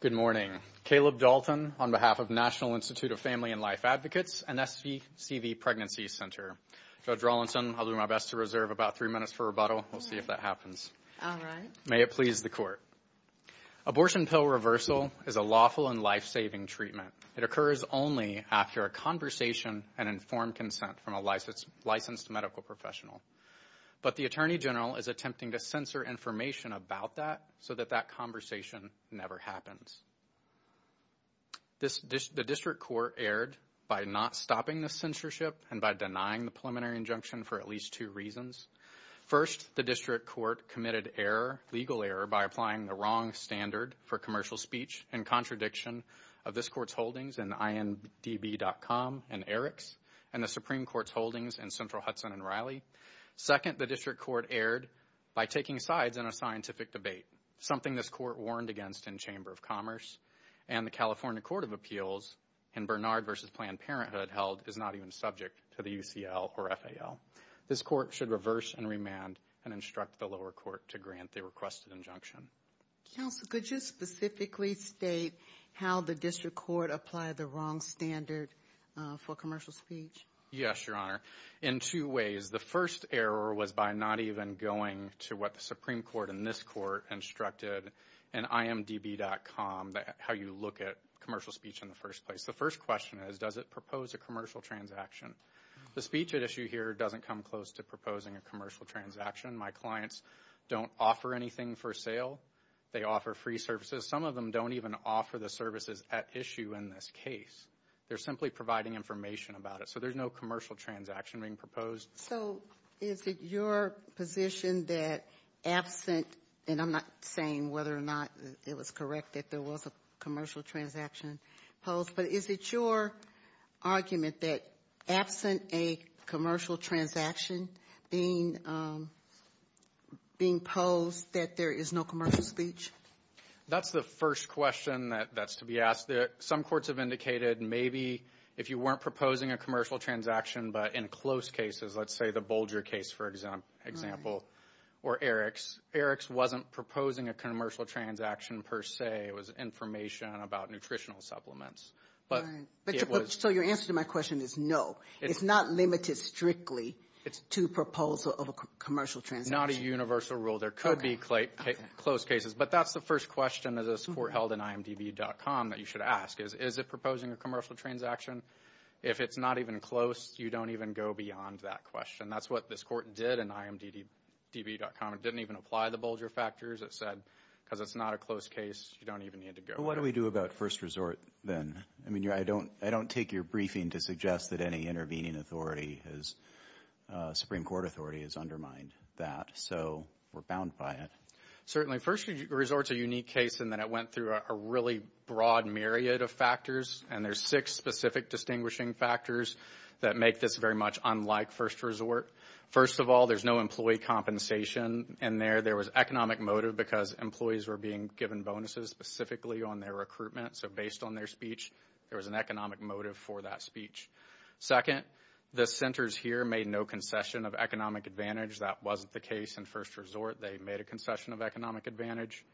Good morning. Caleb Dalton on behalf of National Institute of Family and Life Advocates and SCV Pregnancy Center. Judge Rawlinson, I'll do my best to reserve about three minutes for rebuttal. We'll see if that happens. All right. May it please the Court. Abortion pill reversal is a lawful and life-saving treatment. It occurs only after a conversation and informed consent from a licensed medical professional. But the Attorney General is attempting to censor information about that so that that conversation never happens. The District Court erred by not stopping the censorship and by denying the preliminary injunction for at least two reasons. First, the District Court committed error, legal error, by applying the wrong standard for commercial speech in contradiction of this Court's holdings in INDB.com and Eriks and the Supreme Court's holdings in Central Hudson and Riley. Second, the District Court erred by taking sides in a scientific debate, something this Court warned against in Chamber of Commerce. And the California Court of Appeals in Bernard v. Planned Parenthood held is not even subject to the UCL or FAL. This Court should reverse and remand and instruct the lower court to grant the requested injunction. Counsel, could you specifically state how the District Court applied the wrong standard for commercial speech? Yes, Your Honor. In two ways. The first error was by not even going to what the Supreme Court in this Court instructed in IMDB.com, how you look at commercial speech in the first place. The first question is, does it propose a commercial transaction? The speech at issue here doesn't come close to proposing a commercial transaction. My clients don't offer anything for sale. They offer free services. Some of them don't even offer the services at issue in this case. They're simply providing information about it. So there's no commercial transaction being proposed. So is it your position that absent, and I'm not saying whether or not it was correct that there was a commercial transaction posed, but is it your argument that absent a commercial transaction being posed that there is no commercial speech? That's the first question that's to be asked. Some courts have indicated maybe if you weren't proposing a commercial transaction, but in close cases, let's say the Bolger case, for example, or Eric's, Eric's wasn't proposing a commercial transaction per se. It was information about nutritional supplements. So your answer to my question is no. It's not limited strictly to proposal of a commercial transaction. Not a universal rule. There could be close cases. But that's the first question that this court held in IMDB.com that you should ask is, is it proposing a commercial transaction? If it's not even close, you don't even go beyond that question. That's what this court did in IMDB.com. It didn't even apply the Bolger factors. It said because it's not a close case, you don't even need to go. What do we do about first resort then? I mean, I don't take your briefing to suggest that any intervening authority, Supreme Court authority, has undermined that. So we're bound by it. Certainly. First resort's a unique case in that it went through a really broad myriad of factors, and there's six specific distinguishing factors that make this very much unlike first resort. First of all, there's no employee compensation in there. There was economic motive because employees were being given bonuses specifically on their recruitment. So based on their speech, there was an economic motive for that speech. Second, the centers here made no concession of economic advantage. That wasn't the case in first resort. They made a concession of economic advantage.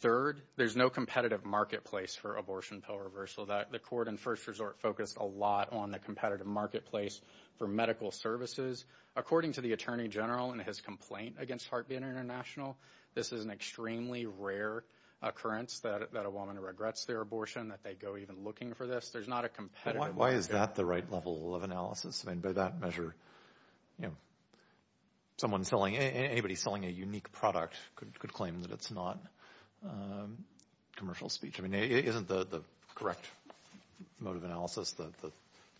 Third, there's no competitive marketplace for abortion, pill reversal. The court in first resort focused a lot on the competitive marketplace for medical services. According to the attorney general in his complaint against HeartBeat International, this is an extremely rare occurrence that a woman regrets their abortion, that they go even looking for this. There's not a competitive market. Why is that the right level of analysis? I mean, by that measure, you know, someone selling, anybody selling a unique product could claim that it's not commercial speech. I mean, isn't the correct mode of analysis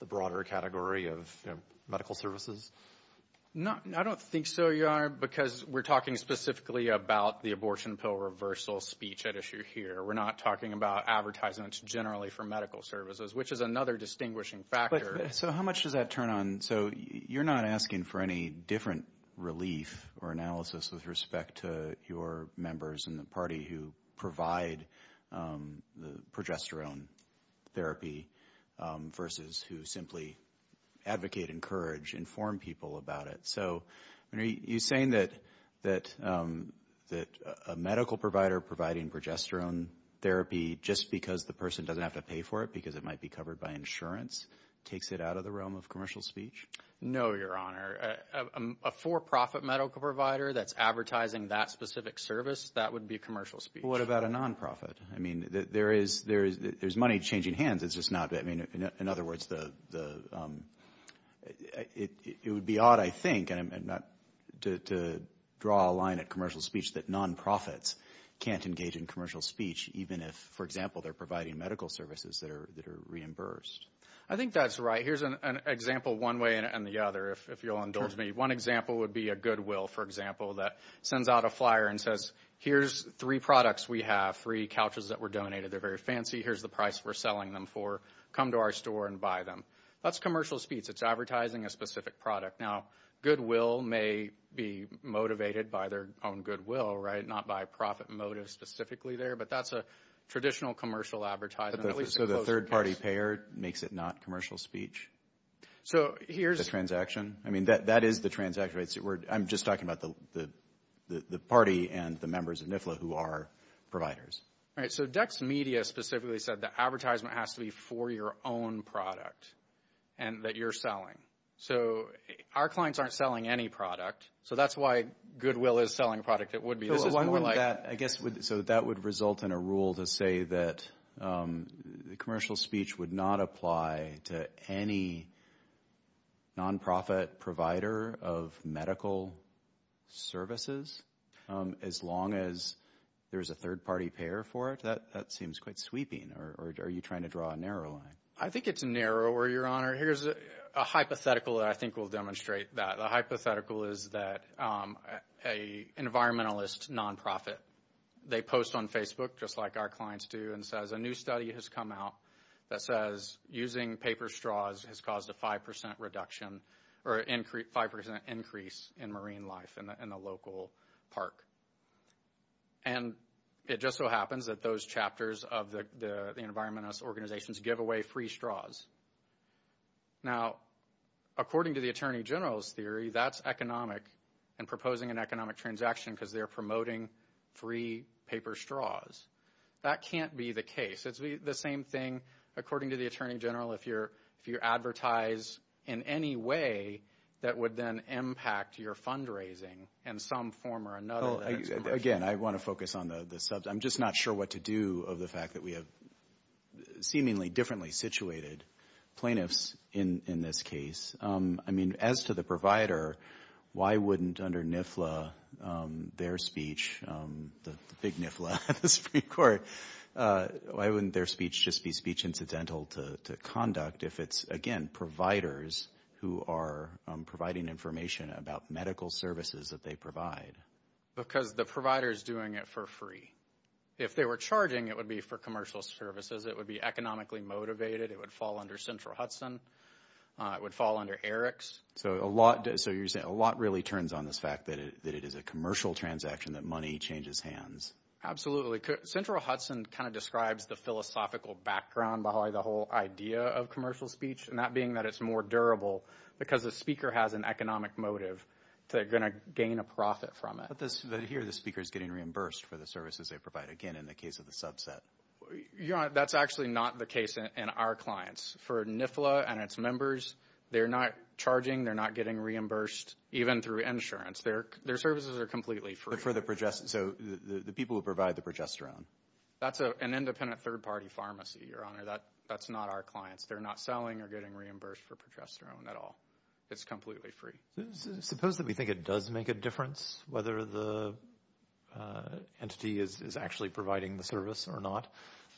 the broader category of medical services? I don't think so, Your Honor, because we're talking specifically about the abortion, pill reversal speech at issue here. We're not talking about advertisements generally for medical services, which is another distinguishing factor. So how much does that turn on? So you're not asking for any different relief or analysis with respect to your members in the party who provide the progesterone therapy versus who simply advocate, encourage, inform people about it. So are you saying that a medical provider providing progesterone therapy just because the person doesn't have to pay for it because it might be covered by insurance takes it out of the realm of commercial speech? No, Your Honor. A for-profit medical provider that's advertising that specific service, that would be commercial speech. What about a nonprofit? I mean, there is money changing hands. It's just not, I mean, in other words, it would be odd, I think, to draw a line at commercial speech that nonprofits can't engage in commercial speech even if, for example, they're providing medical services that are reimbursed. I think that's right. Here's an example one way and the other, if you'll indulge me. One example would be a Goodwill, for example, that sends out a flyer and says, Here's three products we have, three couches that were donated. They're very fancy. Here's the price we're selling them for. Come to our store and buy them. That's commercial speech. It's advertising a specific product. Now, Goodwill may be motivated by their own goodwill, right, not by profit motive specifically there. But that's a traditional commercial advertising. So the third-party payer makes it not commercial speech? The transaction? I mean, that is the transaction. I'm just talking about the party and the members of NIFLA who are providers. All right, so Dex Media specifically said the advertisement has to be for your own product that you're selling. So our clients aren't selling any product. So that's why Goodwill is selling a product that would be a little more like… So that would result in a rule to say that commercial speech would not apply to any nonprofit provider of medical services? As long as there's a third-party payer for it? That seems quite sweeping. Are you trying to draw a narrow line? I think it's narrower, Your Honor. Here's a hypothetical that I think will demonstrate that. The hypothetical is that an environmentalist nonprofit, they post on Facebook, just like our clients do, and says a new study has come out that says using paper straws has caused a 5% reduction or a 5% increase in marine life in a local park. And it just so happens that those chapters of the environmentalist organizations give away free straws. Now, according to the Attorney General's theory, that's economic and proposing an economic transaction because they're promoting free paper straws. That can't be the case. It's the same thing, according to the Attorney General, if you advertise in any way that would then impact your fundraising in some form or another. Again, I want to focus on the subject. I'm just not sure what to do of the fact that we have seemingly differently situated plaintiffs in this case. I mean, as to the provider, why wouldn't under NIFLA their speech, the big NIFLA at the Supreme Court, why wouldn't their speech just be speech incidental to conduct if it's, again, providers who are providing information about medical services that they provide? Because the provider is doing it for free. If they were charging, it would be for commercial services. It would be economically motivated. It would fall under Central Hudson. It would fall under Eric's. So a lot really turns on this fact that it is a commercial transaction, that money changes hands. Absolutely. Central Hudson kind of describes the philosophical background behind the whole idea of commercial speech, and that being that it's more durable because the speaker has an economic motive. They're going to gain a profit from it. But here the speaker is getting reimbursed for the services they provide, again, in the case of the subset. Your Honor, that's actually not the case in our clients. For NIFLA and its members, they're not charging. They're not getting reimbursed even through insurance. Their services are completely free. So the people who provide the progesterone. That's an independent third-party pharmacy, Your Honor. That's not our clients. They're not selling or getting reimbursed for progesterone at all. It's completely free. Suppose that we think it does make a difference whether the entity is actually providing the service or not.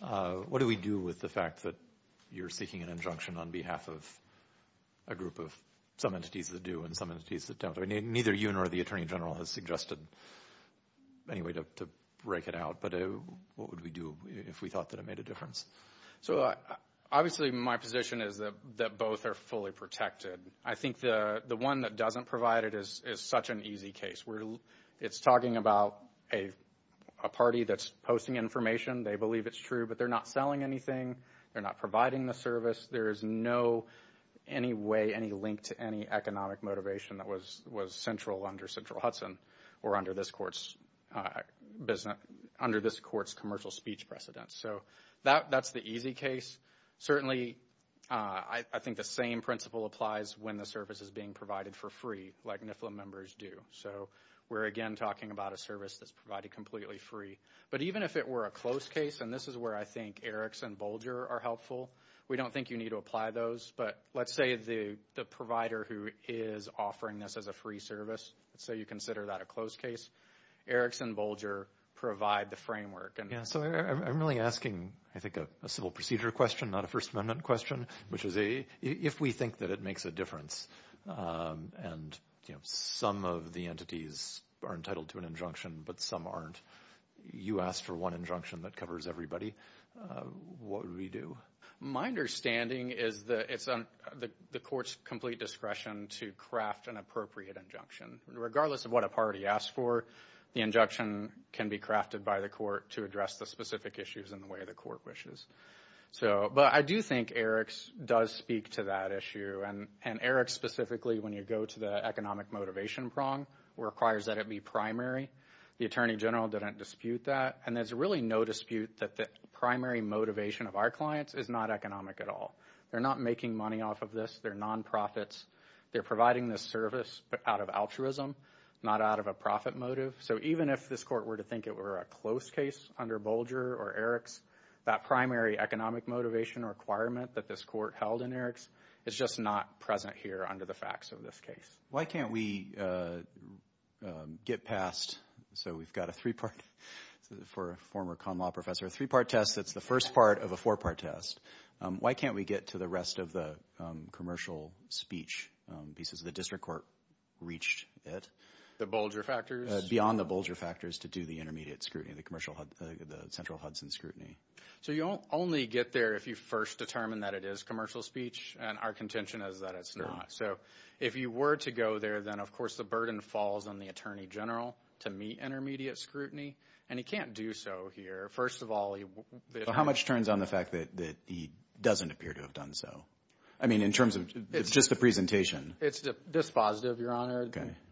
What do we do with the fact that you're seeking an injunction on behalf of a group of some entities that do and some entities that don't? Neither you nor the Attorney General has suggested any way to break it out. But what would we do if we thought that it made a difference? Obviously, my position is that both are fully protected. I think the one that doesn't provide it is such an easy case. It's talking about a party that's posting information. They believe it's true, but they're not selling anything. They're not providing the service. There is no way, any link to any economic motivation that was central under Central Hudson or under this Court's commercial speech precedence. So that's the easy case. Certainly, I think the same principle applies when the service is being provided for free like NIFLA members do. So we're, again, talking about a service that's provided completely free. But even if it were a close case, and this is where I think Eriks and Bolger are helpful, we don't think you need to apply those. But let's say the provider who is offering this as a free service, let's say you consider that a close case, Eriks and Bolger provide the framework. So I'm really asking, I think, a civil procedure question, not a First Amendment question, which is if we think that it makes a difference and some of the entities are entitled to an injunction, but some aren't, you ask for one injunction that covers everybody, what would we do? My understanding is that it's on the Court's complete discretion to craft an appropriate injunction. Regardless of what a party asks for, the injunction can be crafted by the Court to address the specific issues in the way the Court wishes. But I do think Eriks does speak to that issue. And Eriks specifically, when you go to the economic motivation prong, requires that it be primary. The Attorney General didn't dispute that. And there's really no dispute that the primary motivation of our clients is not economic at all. They're not making money off of this. They're nonprofits. They're providing this service out of altruism, not out of a profit motive. So even if this Court were to think it were a close case under Bolger or Eriks, that primary economic motivation requirement that this Court held in Eriks is just not present here under the facts of this case. Why can't we get past, so we've got a three-part, for a former con law professor, a three-part test that's the first part of a four-part test. Why can't we get to the rest of the commercial speech pieces? The district court reached it. The Bolger factors? Beyond the Bolger factors to do the intermediate scrutiny, the central Hudson scrutiny. So you only get there if you first determine that it is commercial speech, and our contention is that it's not. So if you were to go there, then, of course, the burden falls on the Attorney General to meet intermediate scrutiny, and he can't do so here. How much turns on the fact that he doesn't appear to have done so? I mean, in terms of just the presentation. It's dispositive, Your Honor.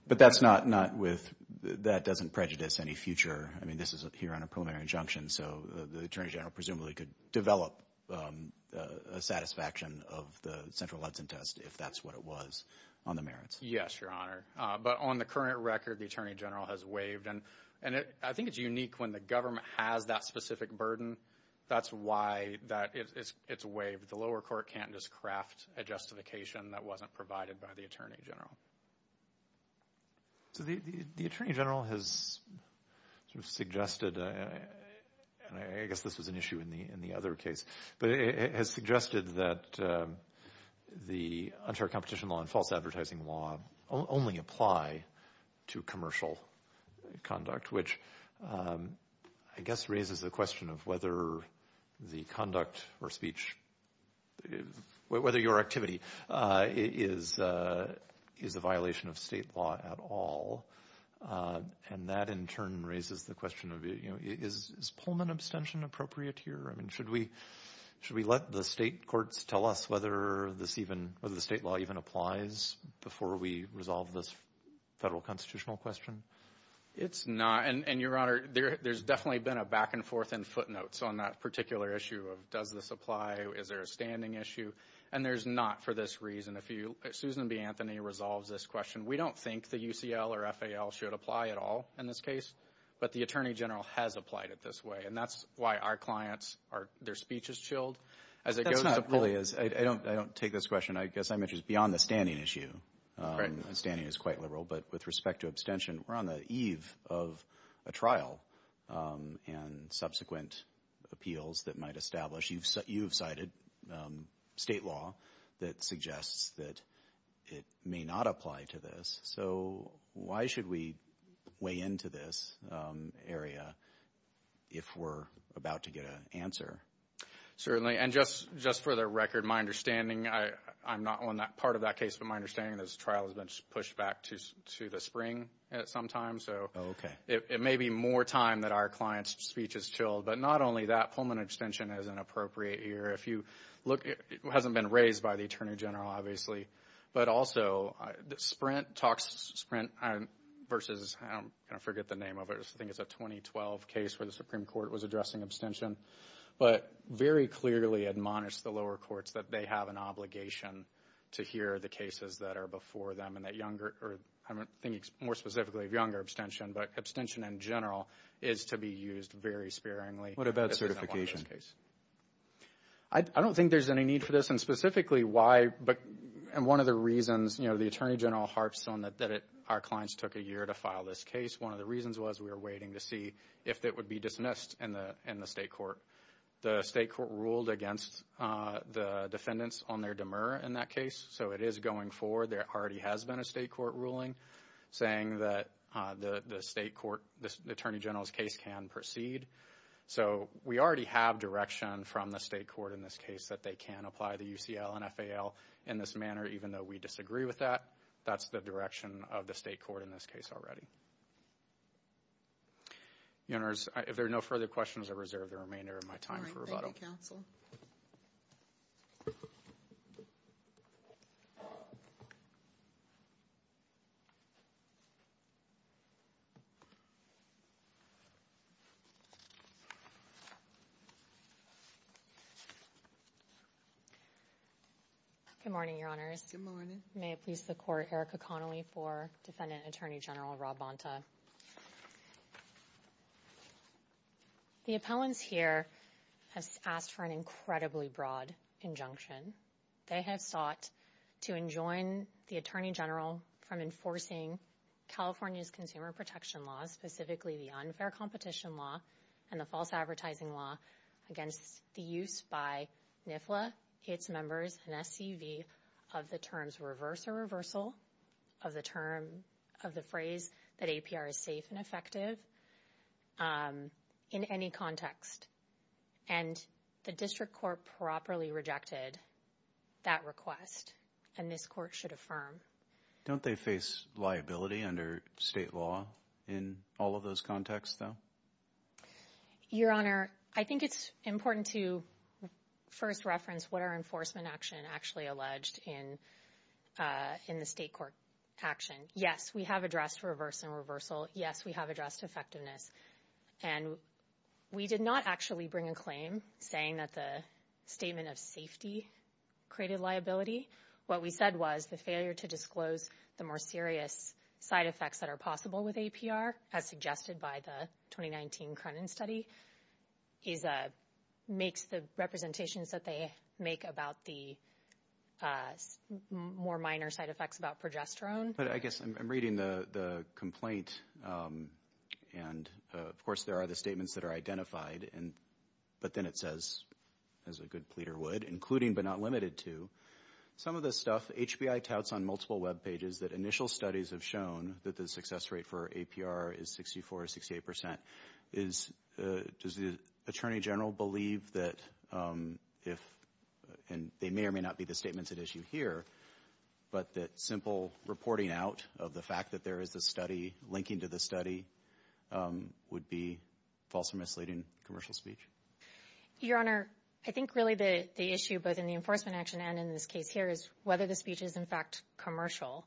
But that doesn't prejudice any future. I mean, this is here on a preliminary injunction, so the Attorney General presumably could develop a satisfaction of the central Hudson test if that's what it was on the merits. Yes, Your Honor. But on the current record, the Attorney General has waived. I think it's unique when the government has that specific burden. That's why it's waived. The lower court can't just craft a justification that wasn't provided by the Attorney General. So the Attorney General has suggested, and I guess this was an issue in the other case, but has suggested that the unfair competition law and false advertising law only apply to commercial conduct, which I guess raises the question of whether the conduct or speech, whether your activity, is a violation of state law at all. And that, in turn, raises the question of, you know, is Pullman abstention appropriate here? I mean, should we let the state courts tell us whether the state law even applies before we resolve this federal constitutional question? It's not. And, Your Honor, there's definitely been a back and forth in footnotes on that particular issue of does this apply, is there a standing issue, and there's not for this reason. If Susan B. Anthony resolves this question, we don't think the UCL or FAL should apply at all in this case, but the Attorney General has applied it this way. And that's why our clients, their speech is chilled. That's not really. I don't take this question. I guess I'm interested beyond the standing issue. Standing is quite liberal. But with respect to abstention, we're on the eve of a trial and subsequent appeals that might establish. You've cited state law that suggests that it may not apply to this. So why should we weigh into this area if we're about to get an answer? And just for the record, my understanding, I'm not on that part of that case, but my understanding is this trial has been pushed back to the spring at some time. So it may be more time that our client's speech is chilled. But not only that, Pullman abstention is inappropriate here. If you look, it hasn't been raised by the Attorney General, obviously. But also, Sprint talks Sprint versus, I forget the name of it. I think it's a 2012 case where the Supreme Court was addressing abstention. But very clearly admonished the lower courts that they have an obligation to hear the cases that are before them. And that younger, I'm thinking more specifically of younger abstention, but abstention in general is to be used very sparingly. What about certification? I don't think there's any need for this. And specifically why, and one of the reasons, you know, the Attorney General harps on that our clients took a year to file this case. One of the reasons was we were waiting to see if it would be dismissed in the state court. The state court ruled against the defendants on their demur in that case. So it is going forward. There already has been a state court ruling saying that the state court, the Attorney General's case can proceed. So we already have direction from the state court in this case that they can apply the UCL and FAL in this manner, even though we disagree with that. That's the direction of the state court in this case already. If there are no further questions, I reserve the remainder of my time for rebuttal. Thank you, Counsel. Good morning, Your Honors. Good morning. May it please the Court, Erica Connelly for Defendant Attorney General Rob Bonta. The appellants here have asked for an incredibly broad injunction. They have sought to enjoin the Attorney General from enforcing California's consumer protection laws, specifically the unfair competition law and the false advertising law against the use by NIFLA, its members, and SCV of the terms reverse or reversal of the phrase that APR is safe and effective in any context. And the district court properly rejected that request, and this court should affirm. Don't they face liability under state law in all of those contexts, though? Your Honor, I think it's important to first reference what our enforcement action actually alleged in the state court action. Yes, we have addressed reverse and reversal. Yes, we have addressed effectiveness. And we did not actually bring a claim saying that the statement of safety created liability. What we said was the failure to disclose the more serious side effects that are possible with APR, as suggested by the 2019 Cronin study, makes the representations that they make about the more minor side effects about progesterone. But I guess I'm reading the complaint, and, of course, there are the statements that are identified, but then it says, as a good pleader would, including but not limited to, some of this stuff. HBI touts on multiple Web pages that initial studies have shown that the success rate for APR is 64 or 68 percent. Does the attorney general believe that if they may or may not be the statements at issue here, but that simple reporting out of the fact that there is a study linking to the study would be false or misleading commercial speech? Your Honor, I think really the issue, both in the enforcement action and in this case here, is whether the speech is, in fact, commercial.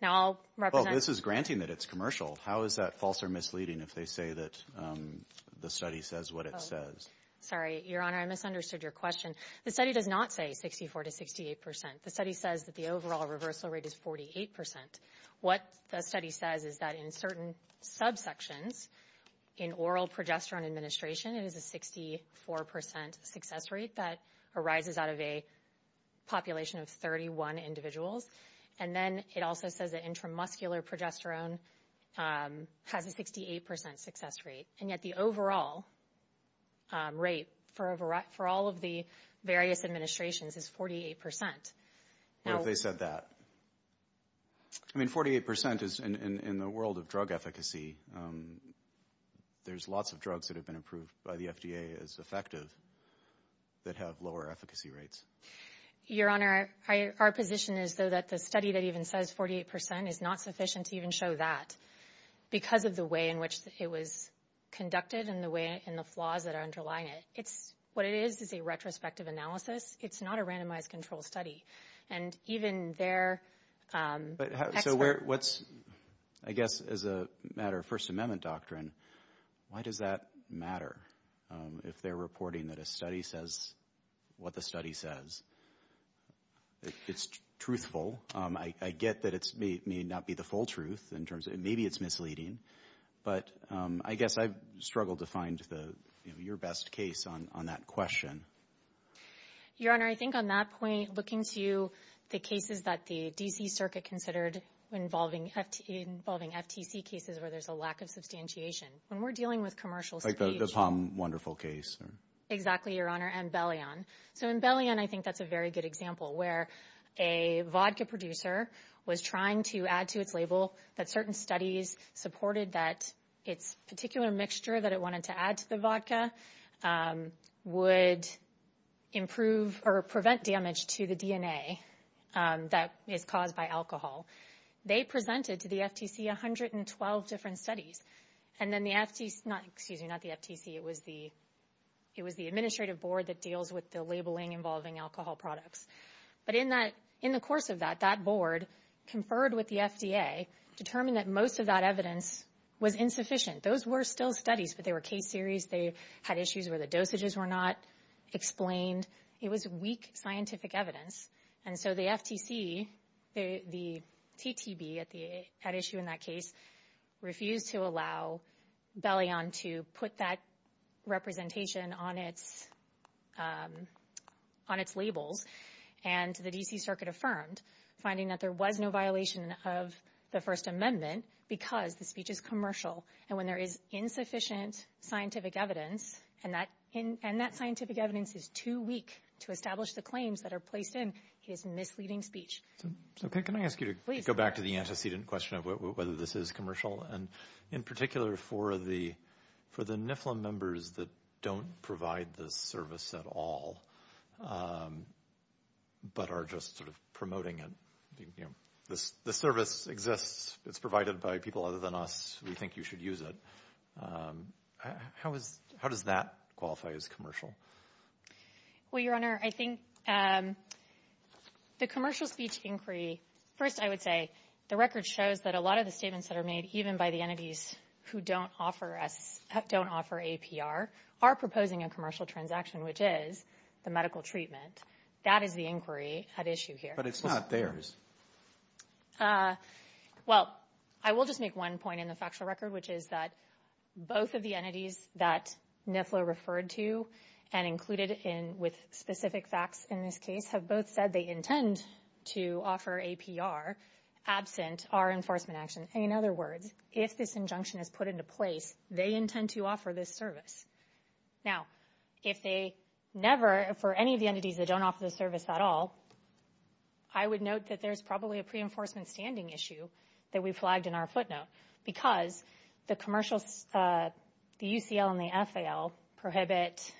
Now, I'll represent. Well, this is granting that it's commercial. How is that false or misleading if they say that the study says what it says? Sorry, Your Honor, I misunderstood your question. The study does not say 64 to 68 percent. The study says that the overall reversal rate is 48 percent. What the study says is that in certain subsections, in oral progesterone administration, it is a 64 percent success rate that arises out of a population of 31 individuals. And then it also says that intramuscular progesterone has a 68 percent success rate. And yet the overall rate for all of the various administrations is 48 percent. What if they said that? I mean, 48 percent is, in the world of drug efficacy, there's lots of drugs that have been approved by the FDA as effective that have lower efficacy rates. Your Honor, our position is, though, that the study that even says 48 percent is not sufficient to even show that because of the way in which it was conducted and the flaws that are underlying it. What it is is a retrospective analysis. It's not a randomized controlled study. And even their expert. So what's, I guess, as a matter of First Amendment doctrine, why does that matter if they're reporting that a study says what the study says? It's truthful. I get that it may not be the full truth in terms of maybe it's misleading. But I guess I've struggled to find your best case on that question. Your Honor, I think on that point, looking to the cases that the D.C. Circuit considered involving FTC cases where there's a lack of substantiation. When we're dealing with commercials. Like the Palm Wonderful case. Exactly, Your Honor. And Bellion. So in Bellion, I think that's a very good example where a vodka producer was trying to add to its label that certain studies supported that its particular mixture that it wanted to add to the vodka would improve or prevent damage to the DNA that is caused by alcohol. They presented to the FTC 112 different studies. And then the FTC, excuse me, not the FTC. It was the administrative board that deals with the labeling involving alcohol products. But in the course of that, that board conferred with the FDA, determined that most of that evidence was insufficient. Those were still studies, but they were case series. They had issues where the dosages were not explained. It was weak scientific evidence. And so the FTC, the TTB at issue in that case, refused to allow Bellion to put that representation on its labels. And the D.C. Circuit affirmed, finding that there was no violation of the First Amendment because the speech is commercial. And when there is insufficient scientific evidence, and that scientific evidence is too weak to establish the claims that are placed in, it is misleading speech. Okay, can I ask you to go back to the antecedent question of whether this is commercial, and in particular for the NIFLM members that don't provide this service at all but are just sort of promoting it. The service exists. It's provided by people other than us. We think you should use it. How does that qualify as commercial? Well, Your Honor, I think the commercial speech inquiry, first I would say, the record shows that a lot of the statements that are made, even by the entities who don't offer APR, are proposing a commercial transaction, which is the medical treatment. That is the inquiry at issue here. But it's not theirs. Well, I will just make one point in the factual record, which is that both of the entities that NIFLM referred to and included with specific facts in this case have both said they intend to offer APR absent our enforcement action. In other words, if this injunction is put into place, they intend to offer this service. Now, if they never, for any of the entities that don't offer the service at all, I would note that there's probably a pre-enforcement standing issue that we flagged in our footnote, because the UCL and the FAL prohibit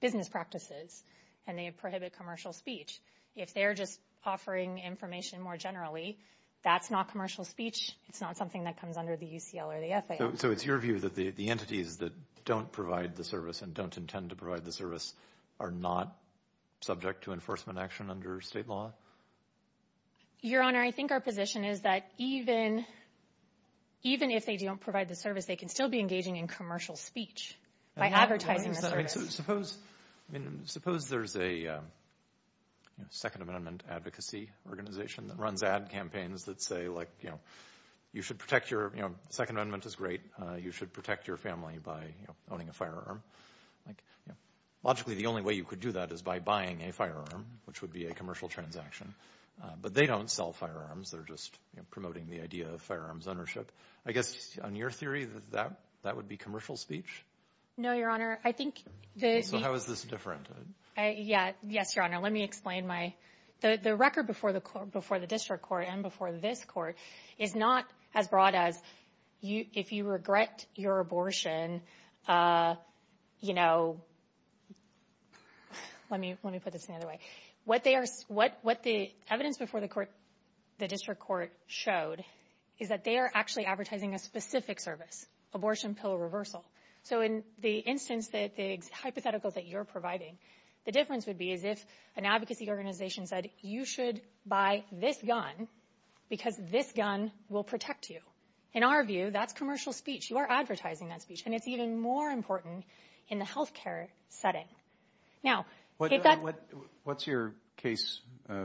business practices, and they prohibit commercial speech. If they're just offering information more generally, that's not commercial speech. It's not something that comes under the UCL or the FAL. So it's your view that the entities that don't provide the service and don't intend to provide the service are not subject to enforcement action under state law? Your Honor, I think our position is that even if they don't provide the service, they can still be engaging in commercial speech by advertising the service. Suppose there's a Second Amendment advocacy organization that runs ad campaigns that say, like, you know, Second Amendment is great. You should protect your family by owning a firearm. Logically, the only way you could do that is by buying a firearm, which would be a commercial transaction. But they don't sell firearms. They're just promoting the idea of firearms ownership. I guess on your theory, that would be commercial speech? No, Your Honor. So how is this different? Yes, Your Honor. The record before the district court and before this court is not as broad as, if you regret your abortion, you know, let me put this another way. What the evidence before the district court showed is that they are actually advertising a specific service, abortion pill reversal. So in the hypotheticals that you're providing, the difference would be as if an advocacy organization said, you should buy this gun because this gun will protect you. In our view, that's commercial speech. You are advertising that speech. And it's even more important in the health care setting. Now, what's your case? I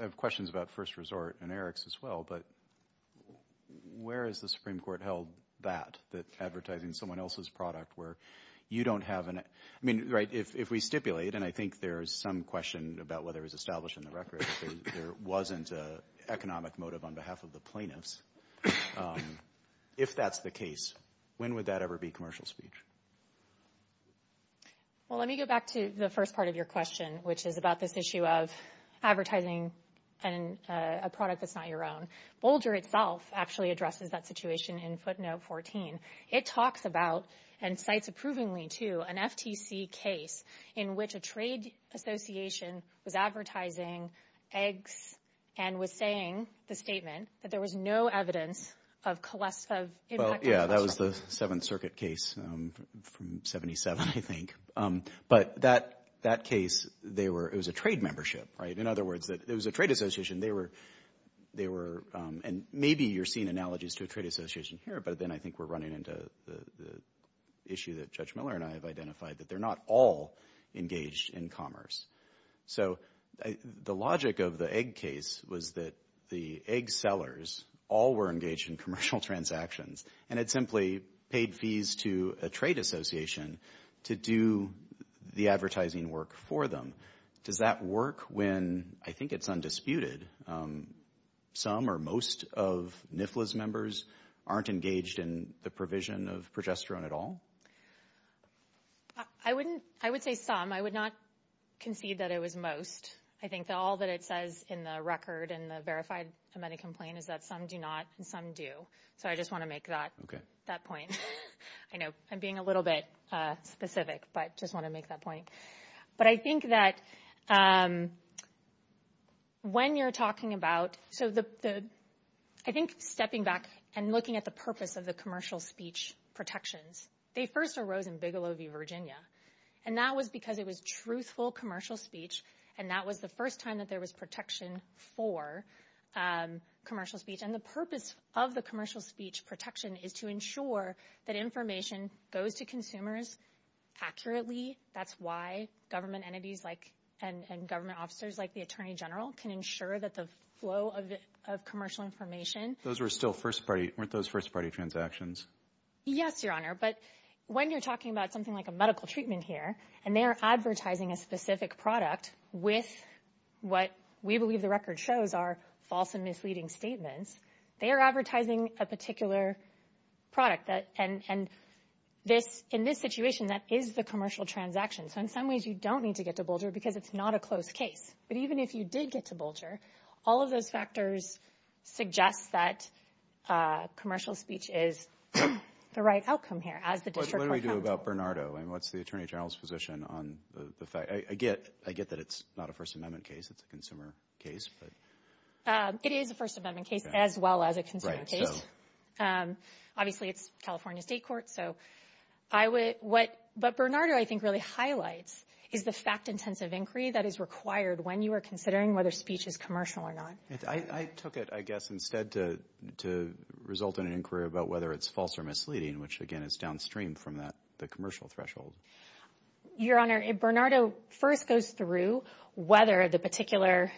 have questions about First Resort and Eric's as well. But where is the Supreme Court held that, that advertising someone else's product where you don't have an, I mean, right, if we stipulate, and I think there's some question about whether it was established in the record, there wasn't an economic motive on behalf of the plaintiffs. If that's the case, when would that ever be commercial speech? Well, let me go back to the first part of your question, which is about this issue of advertising a product that's not your own. Boulder itself actually addresses that situation in footnote 14. It talks about, and cites approvingly, too, an FTC case in which a trade association was advertising eggs and was saying the statement that there was no evidence of collective impact. Well, yeah, that was the Seventh Circuit case from 77, I think. But that case, they were, it was a trade membership, right? In other words, it was a trade association. They were, and maybe you're seeing analogies to a trade association here, but then I think we're running into the issue that Judge Miller and I have identified, that they're not all engaged in commerce. So the logic of the egg case was that the egg sellers all were engaged in commercial transactions and had simply paid fees to a trade association to do the advertising work for them. Does that work when, I think it's undisputed, some or most of NIFLA's members aren't engaged in the provision of progesterone at all? I wouldn't, I would say some. I would not concede that it was most. I think that all that it says in the record in the verified amended complaint is that some do not and some do. So I just want to make that point. I know I'm being a little bit specific, but just want to make that point. But I think that when you're talking about, so I think stepping back and looking at the purpose of the commercial speech protections, they first arose in Bigelow v. Virginia. And that was because it was truthful commercial speech, and that was the first time that there was protection for commercial speech. And the purpose of the commercial speech protection is to ensure that information goes to consumers accurately. That's why government entities and government officers like the attorney general can ensure that the flow of commercial information. Those were still first-party, weren't those first-party transactions? Yes, Your Honor. But when you're talking about something like a medical treatment here, and they are advertising a specific product with what we believe the record shows are false and misleading statements, they are advertising a particular product. And in this situation, that is the commercial transaction. So in some ways, you don't need to get to Bolger because it's not a closed case. But even if you did get to Bolger, all of those factors suggest that commercial speech is the right outcome here as the district court found it. What do we do about Bernardo? I mean, what's the attorney general's position on the fact? I get that it's not a First Amendment case. It's a consumer case. It is a First Amendment case as well as a consumer case. Obviously, it's California state court. But Bernardo, I think, really highlights is the fact-intensive inquiry that is required when you are considering whether speech is commercial or not. I took it, I guess, instead to result in an inquiry about whether it's false or misleading, which, again, is downstream from the commercial threshold. Your Honor, if Bernardo first goes through whether the particular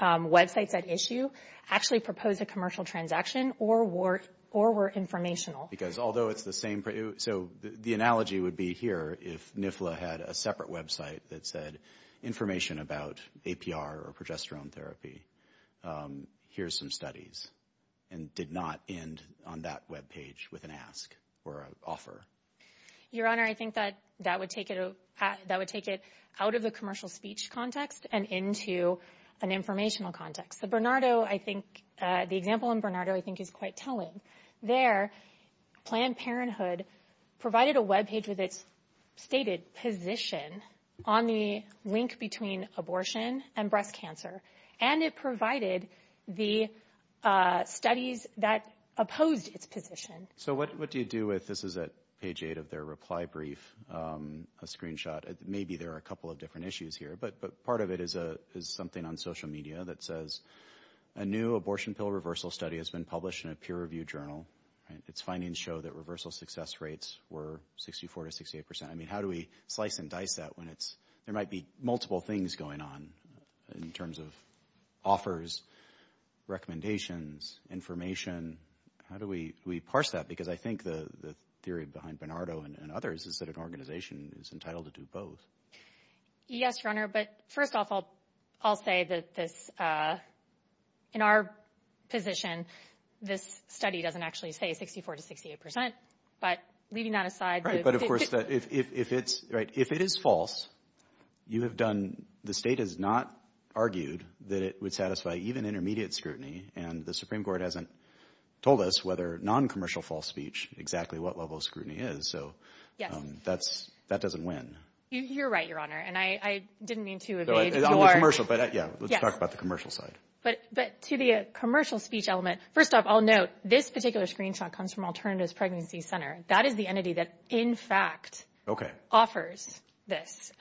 websites at issue actually proposed a commercial transaction or were informational. Because although it's the same – so the analogy would be here if NIFLA had a separate website that said, information about APR or progesterone therapy, here's some studies, and did not end on that webpage with an ask or an offer. Your Honor, I think that would take it out of the commercial speech context and into an informational context. The example in Bernardo I think is quite telling. There, Planned Parenthood provided a webpage with its stated position on the link between abortion and breast cancer. And it provided the studies that opposed its position. So what do you do with – this is at page 8 of their reply brief, a screenshot. Maybe there are a couple of different issues here, but part of it is something on social media that says, a new abortion pill reversal study has been published in a peer-reviewed journal. Its findings show that reversal success rates were 64 to 68 percent. I mean, how do we slice and dice that when there might be multiple things going on in terms of offers, recommendations, information? How do we parse that? Because I think the theory behind Bernardo and others is that an organization is entitled to do both. Yes, Your Honor. But first off, I'll say that this – in our position, this study doesn't actually say 64 to 68 percent. But leaving that aside – Right, but of course, if it's – right, if it is false, you have done – the state has not argued that it would satisfy even intermediate scrutiny, and the Supreme Court hasn't told us whether non-commercial false speech, exactly what level of scrutiny is. So that doesn't win. You're right, Your Honor, and I didn't mean to evade your – On the commercial, but yeah, let's talk about the commercial side. But to the commercial speech element, first off, I'll note this particular screenshot comes from Alternatives Pregnancy Center. That is the entity that, in fact, offers this,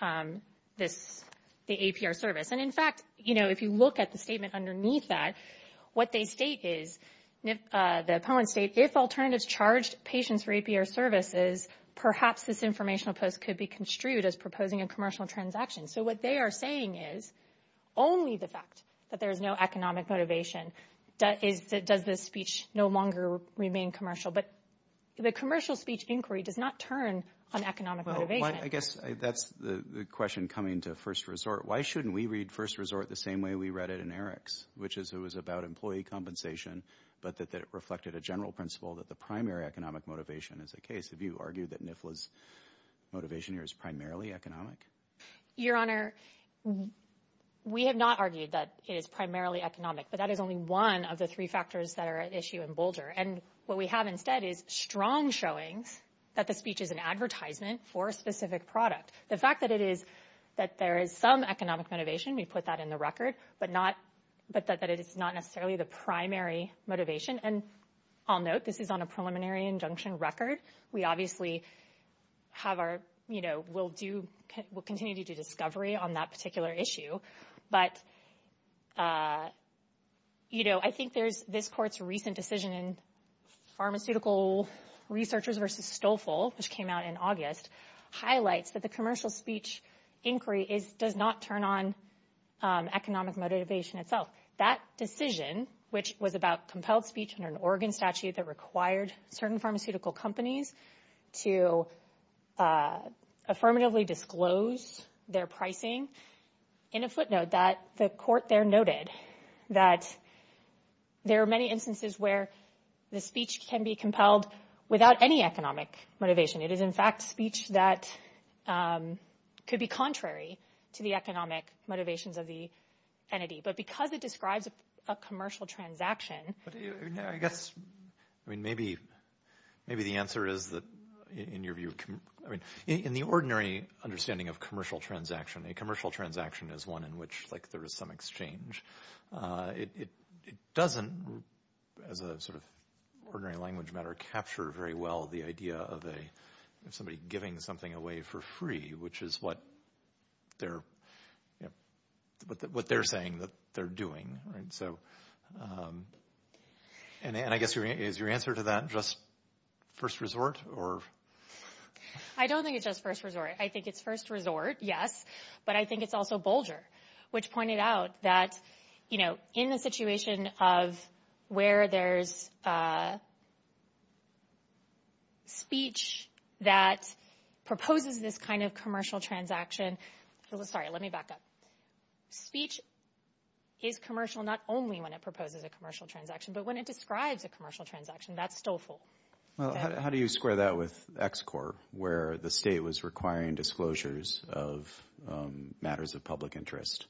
the APR service. And, in fact, you know, if you look at the statement underneath that, what they state is – the appellants state, if Alternatives charged patients for APR services, perhaps this informational post could be construed as proposing a commercial transaction. So what they are saying is only the fact that there is no economic motivation does this speech no longer remain commercial. But the commercial speech inquiry does not turn on economic motivation. Well, I guess that's the question coming to First Resort. Why shouldn't we read First Resort the same way we read it in Eriks, which is it was about employee compensation, but that it reflected a general principle that the primary economic motivation is the case? Have you argued that NIFLA's motivation here is primarily economic? Your Honor, we have not argued that it is primarily economic, but that is only one of the three factors that are at issue in Boulder. And what we have instead is strong showings that the speech is an advertisement for a specific product. The fact that it is – that there is some economic motivation, we put that in the record, but not – but that it is not necessarily the primary motivation. And I'll note this is on a preliminary injunction record. We obviously have our – you know, we'll do – we'll continue to do discovery on that particular issue. But, you know, I think there's – this Court's recent decision in Pharmaceutical Researchers v. Stolfel, which came out in August, highlights that the commercial speech inquiry does not turn on economic motivation itself. That decision, which was about compelled speech under an Oregon statute that required certain pharmaceutical companies to affirmatively disclose their pricing, in a footnote that the Court there noted that there are many instances where the speech can be compelled without any economic motivation. It is, in fact, speech that could be contrary to the economic motivations of the entity. But because it describes a commercial transaction – But I guess, I mean, maybe the answer is that in your view – I mean, in the ordinary understanding of commercial transaction, a commercial transaction is one in which, like, there is some exchange. It doesn't, as a sort of ordinary language matter, capture very well the idea of somebody giving something away for free, which is what they're – what they're saying that they're doing. Right, so – and I guess, is your answer to that just first resort, or – I don't think it's just first resort. I think it's first resort, yes, but I think it's also bolger, which pointed out that, you know, in the situation of where there's speech that proposes this kind of commercial transaction – Sorry, let me back up. Speech is commercial not only when it proposes a commercial transaction, but when it describes a commercial transaction, that's still full. Well, how do you square that with XCOR, where the state was requiring disclosures of matters of public interest,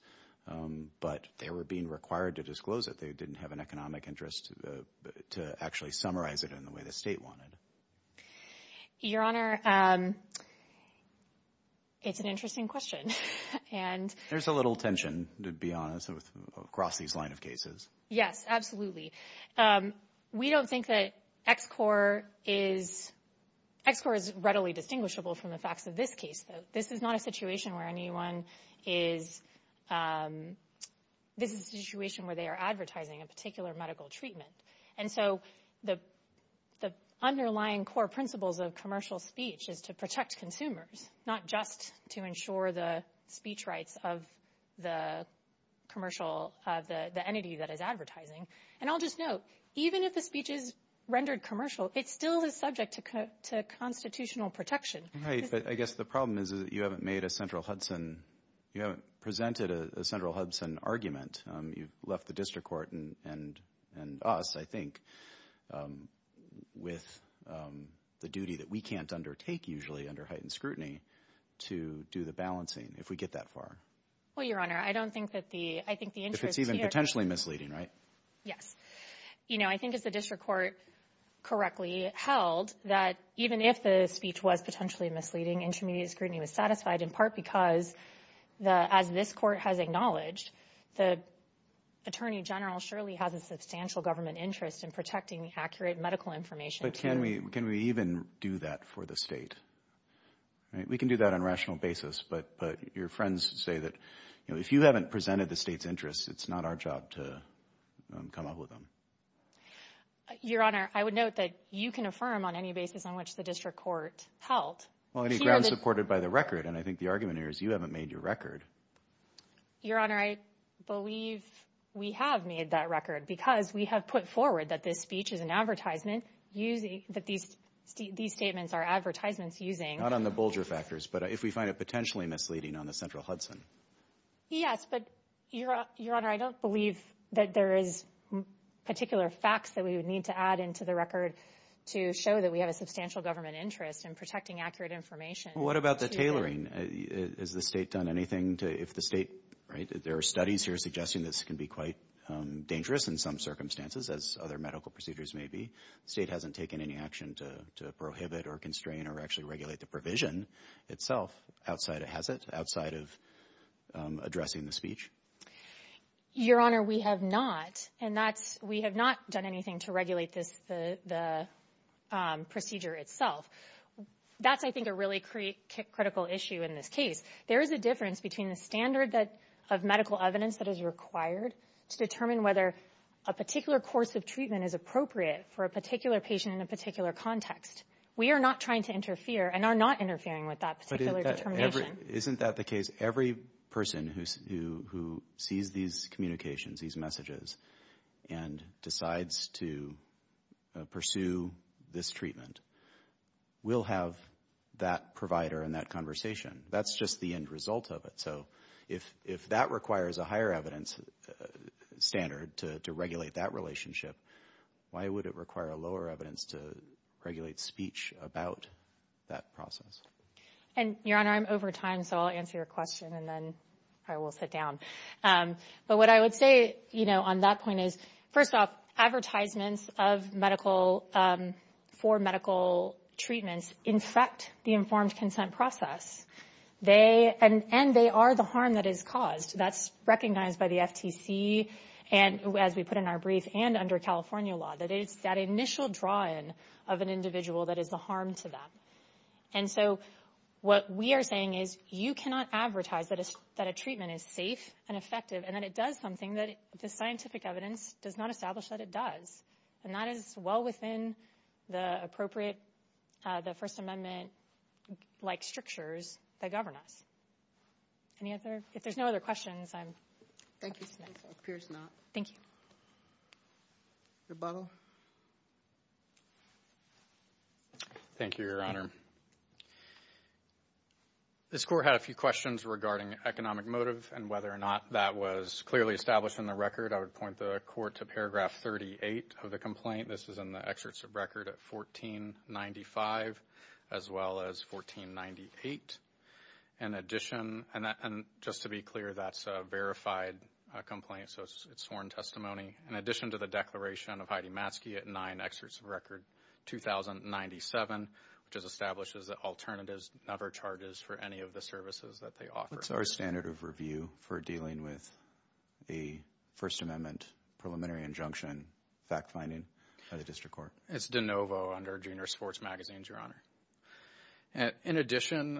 but they were being required to disclose it. They didn't have an economic interest to actually summarize it in the way the state wanted. Your Honor, it's an interesting question, and – There's a little tension, to be honest, across these line of cases. Yes, absolutely. We don't think that XCOR is – XCOR is readily distinguishable from the facts of this case, though. This is not a situation where anyone is – this is a situation where they are advertising a particular medical treatment. And so the underlying core principles of commercial speech is to protect consumers, not just to ensure the speech rights of the commercial – the entity that is advertising. And I'll just note, even if the speech is rendered commercial, it still is subject to constitutional protection. Right, but I guess the problem is that you haven't made a central Hudson – you haven't presented a central Hudson argument. You've left the district court and us, I think, with the duty that we can't undertake usually under heightened scrutiny to do the balancing, if we get that far. Well, Your Honor, I don't think that the – I think the interest here – If it's even potentially misleading, right? Yes. You know, I think if the district court correctly held that even if the speech was potentially misleading, intermediate scrutiny was satisfied in part because the – as this court has acknowledged, the Attorney General surely has a substantial government interest in protecting accurate medical information. But can we – can we even do that for the state? We can do that on a rational basis, but your friends say that, you know, if you haven't presented the state's interests, it's not our job to come up with them. Your Honor, I would note that you can affirm on any basis on which the district court held. Well, any grounds supported by the record, and I think the argument here is you haven't made your record. Your Honor, I believe we have made that record because we have put forward that this speech is an advertisement using – that these statements are advertisements using – Not on the Bolger factors, but if we find it potentially misleading on the central Hudson. Yes, but, Your Honor, I don't believe that there is particular facts that we would need to add into the record to show that we have a substantial government interest in protecting accurate information. Well, what about the tailoring? Has the state done anything to – if the state – right? There are studies here suggesting this can be quite dangerous in some circumstances, as other medical procedures may be. The state hasn't taken any action to prohibit or constrain or actually regulate the provision itself, outside it has it, outside of addressing the speech. Your Honor, we have not, and that's – we have not done anything to regulate the procedure itself. That's, I think, a really critical issue in this case. There is a difference between the standard of medical evidence that is required to determine whether a particular course of treatment is appropriate for a particular patient in a particular context. We are not trying to interfere and are not interfering with that particular determination. Isn't that the case? Every person who sees these communications, these messages, and decides to pursue this treatment will have that provider and that conversation. That's just the end result of it. So if that requires a higher evidence standard to regulate that relationship, why would it require a lower evidence to regulate speech about that process? And, Your Honor, I'm over time, so I'll answer your question and then I will sit down. But what I would say, you know, on that point is, first off, advertisements of medical – for medical treatments infect the informed consent process. They – and they are the harm that is caused. That's recognized by the FTC and, as we put in our brief, and under California law, that it's that initial draw-in of an individual that is a harm to them. And so what we are saying is you cannot advertise that a treatment is safe and effective and that it does something that the scientific evidence does not establish that it does. And that is well within the appropriate – the First Amendment-like strictures that govern us. Any other – if there's no other questions, I'm – Thank you. It appears not. Thank you. Rebuttal. Thank you, Your Honor. This Court had a few questions regarding economic motive and whether or not that was clearly established in the record. I would point the Court to paragraph 38 of the complaint. This is in the excerpts of record at 1495 as well as 1498. In addition – and just to be clear, that's a verified complaint, so it's sworn testimony. In addition to the declaration of Heidi Matske at 9 excerpts of record 2097, which establishes that alternatives never charges for any of the services that they offer. What's our standard of review for dealing with a First Amendment preliminary injunction fact-finding by the district court? It's de novo under Junior Sports Magazines, Your Honor. In addition,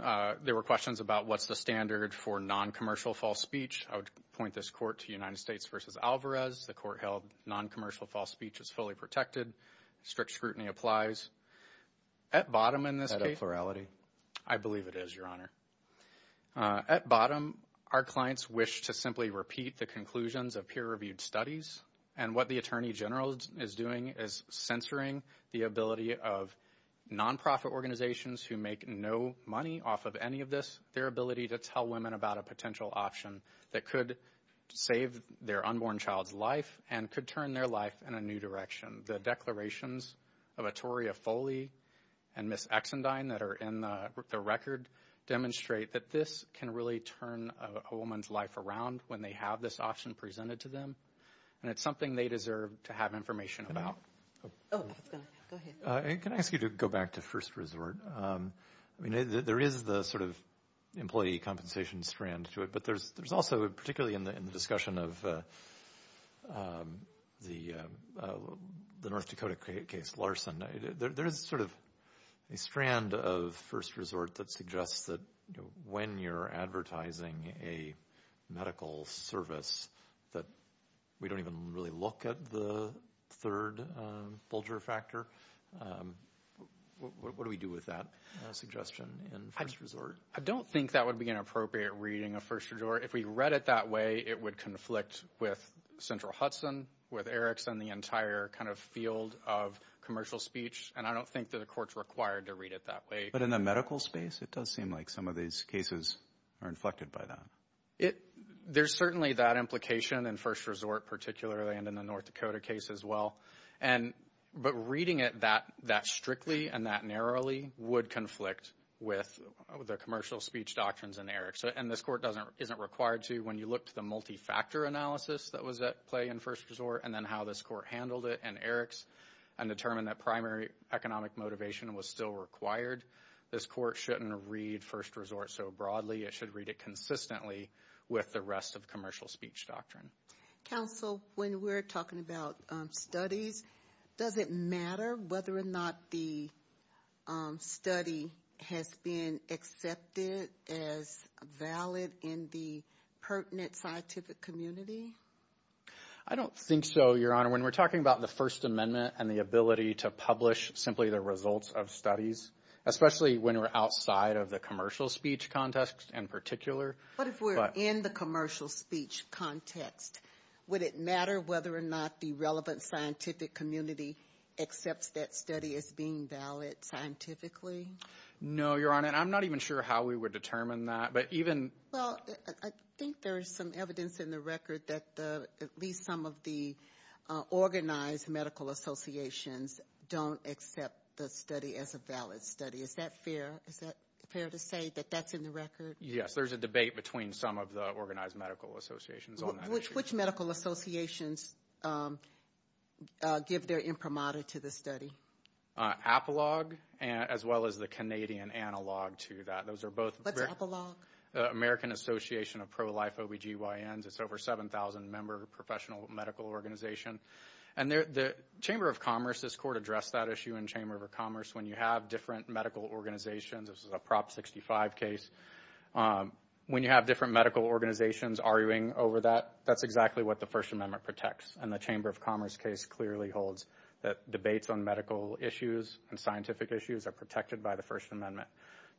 there were questions about what's the standard for noncommercial false speech. I would point this Court to United States v. Alvarez. The Court held noncommercial false speech is fully protected. Strict scrutiny applies. At bottom in this case – Is that a plurality? I believe it is, Your Honor. At bottom, our clients wish to simply repeat the conclusions of peer-reviewed studies, and what the Attorney General is doing is censoring the ability of nonprofit organizations who make no money off of any of this, their ability to tell women about a potential option that could save their unborn child's life and could turn their life in a new direction. The declarations of Ettoria Foley and Ms. Exendine that are in the record demonstrate that this can really turn a woman's life around when they have this option presented to them, and it's something they deserve to have information about. Go ahead. Can I ask you to go back to first resort? I mean, there is the sort of employee compensation strand to it, but there's also, particularly in the discussion of the North Dakota case, Larson, there is sort of a strand of first resort that suggests that when you're advertising a medical service that we don't even really look at the third vulture factor. What do we do with that suggestion in first resort? I don't think that would be an appropriate reading of first resort. If we read it that way, it would conflict with Central Hudson, with Erickson, the entire kind of field of commercial speech, and I don't think that a court's required to read it that way. But in the medical space, it does seem like some of these cases are inflected by that. There's certainly that implication in first resort, particularly, and in the North Dakota case as well. But reading it that strictly and that narrowly would conflict with the commercial speech doctrines in Erickson, and this court isn't required to when you look at the multi-factor analysis that was at play in first resort and then how this court handled it in Erickson and determined that primary economic motivation was still required. This court shouldn't read first resort so broadly. It should read it consistently with the rest of commercial speech doctrine. Counsel, when we're talking about studies, does it matter whether or not the study has been accepted as valid in the pertinent scientific community? I don't think so, Your Honor. When we're talking about the First Amendment and the ability to publish simply the results of studies, especially when we're outside of the commercial speech context in particular. But if we're in the commercial speech context, would it matter whether or not the relevant scientific community accepts that study as being valid scientifically? No, Your Honor, and I'm not even sure how we would determine that. Well, I think there is some evidence in the record that at least some of the organized medical associations don't accept the study as a valid study. Is that fair? Is that fair to say that that's in the record? Yes, there's a debate between some of the organized medical associations on that issue. Which medical associations give their imprimatur to the study? Apollog as well as the Canadian analog to that. What's Apollog? American Association of Pro-Life OBGYNs. It's over 7,000-member professional medical organization. And the Chamber of Commerce, this Court addressed that issue in Chamber of Commerce. When you have different medical organizations, this is a Prop 65 case, when you have different medical organizations arguing over that, that's exactly what the First Amendment protects. And the Chamber of Commerce case clearly holds that debates on medical issues and scientific issues are protected by the First Amendment.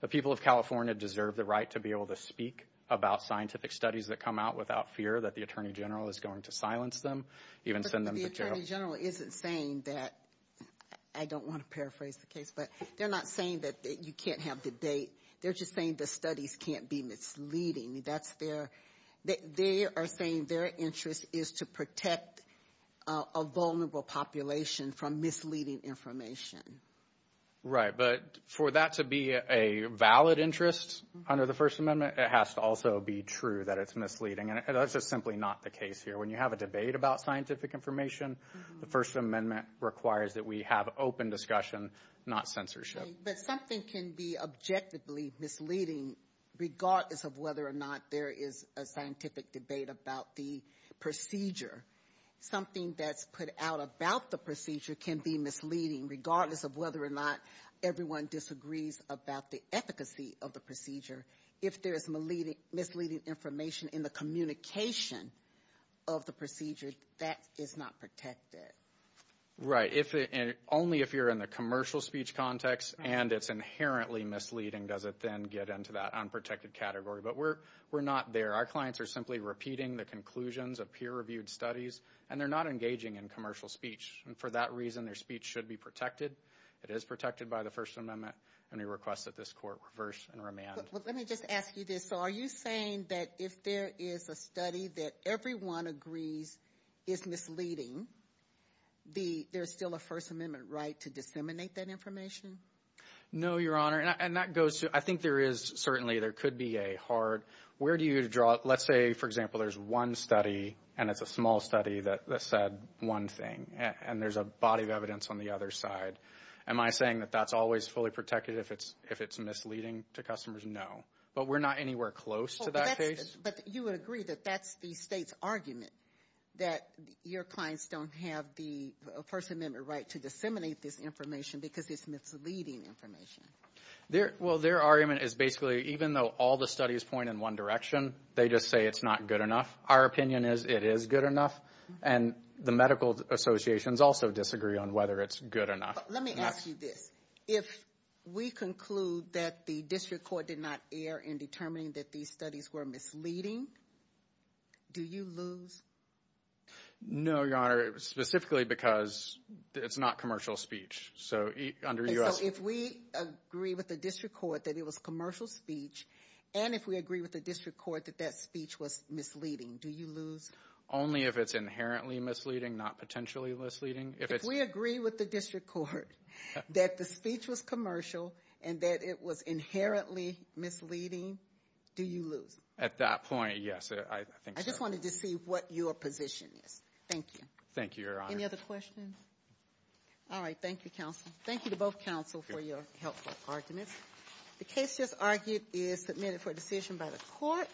The people of California deserve the right to be able to speak about scientific studies that come out without fear that the Attorney General is going to silence them, even send them to jail. But the Attorney General isn't saying that, I don't want to paraphrase the case, but they're not saying that you can't have the date. They're just saying the studies can't be misleading. They are saying their interest is to protect a vulnerable population from misleading information. Right, but for that to be a valid interest under the First Amendment, it has to also be true that it's misleading. And that's just simply not the case here. When you have a debate about scientific information, the First Amendment requires that we have open discussion, not censorship. But something can be objectively misleading, regardless of whether or not there is a scientific debate about the procedure. Something that's put out about the procedure can be misleading, regardless of whether or not everyone disagrees about the efficacy of the procedure. If there is misleading information in the communication of the procedure, that is not protected. Right. Only if you're in the commercial speech context and it's inherently misleading does it then get into that unprotected category. But we're not there. Our clients are simply repeating the conclusions of peer-reviewed studies, and they're not engaging in commercial speech. And for that reason, their speech should be protected. It is protected by the First Amendment. And we request that this Court reverse and remand. Let me just ask you this. So are you saying that if there is a study that everyone agrees is misleading, there's still a First Amendment right to disseminate that information? No, Your Honor. And that goes to – I think there is certainly – there could be a hard – where do you draw – and there's a body of evidence on the other side. Am I saying that that's always fully protected if it's misleading to customers? No. But we're not anywhere close to that case. But you would agree that that's the State's argument, that your clients don't have the First Amendment right to disseminate this information because it's misleading information. Well, their argument is basically even though all the studies point in one direction, they just say it's not good enough. Our opinion is it is good enough. And the medical associations also disagree on whether it's good enough. Let me ask you this. If we conclude that the district court did not err in determining that these studies were misleading, do you lose? No, Your Honor, specifically because it's not commercial speech. So under U.S. – So if we agree with the district court that it was commercial speech and if we agree with the district court that that speech was misleading, do you lose? Only if it's inherently misleading, not potentially misleading. If we agree with the district court that the speech was commercial and that it was inherently misleading, do you lose? At that point, yes, I think so. I just wanted to see what your position is. Thank you. Thank you, Your Honor. Any other questions? All right. Thank you, counsel. Thank you to both counsel for your helpful arguments. The case just argued is submitted for decision by the court.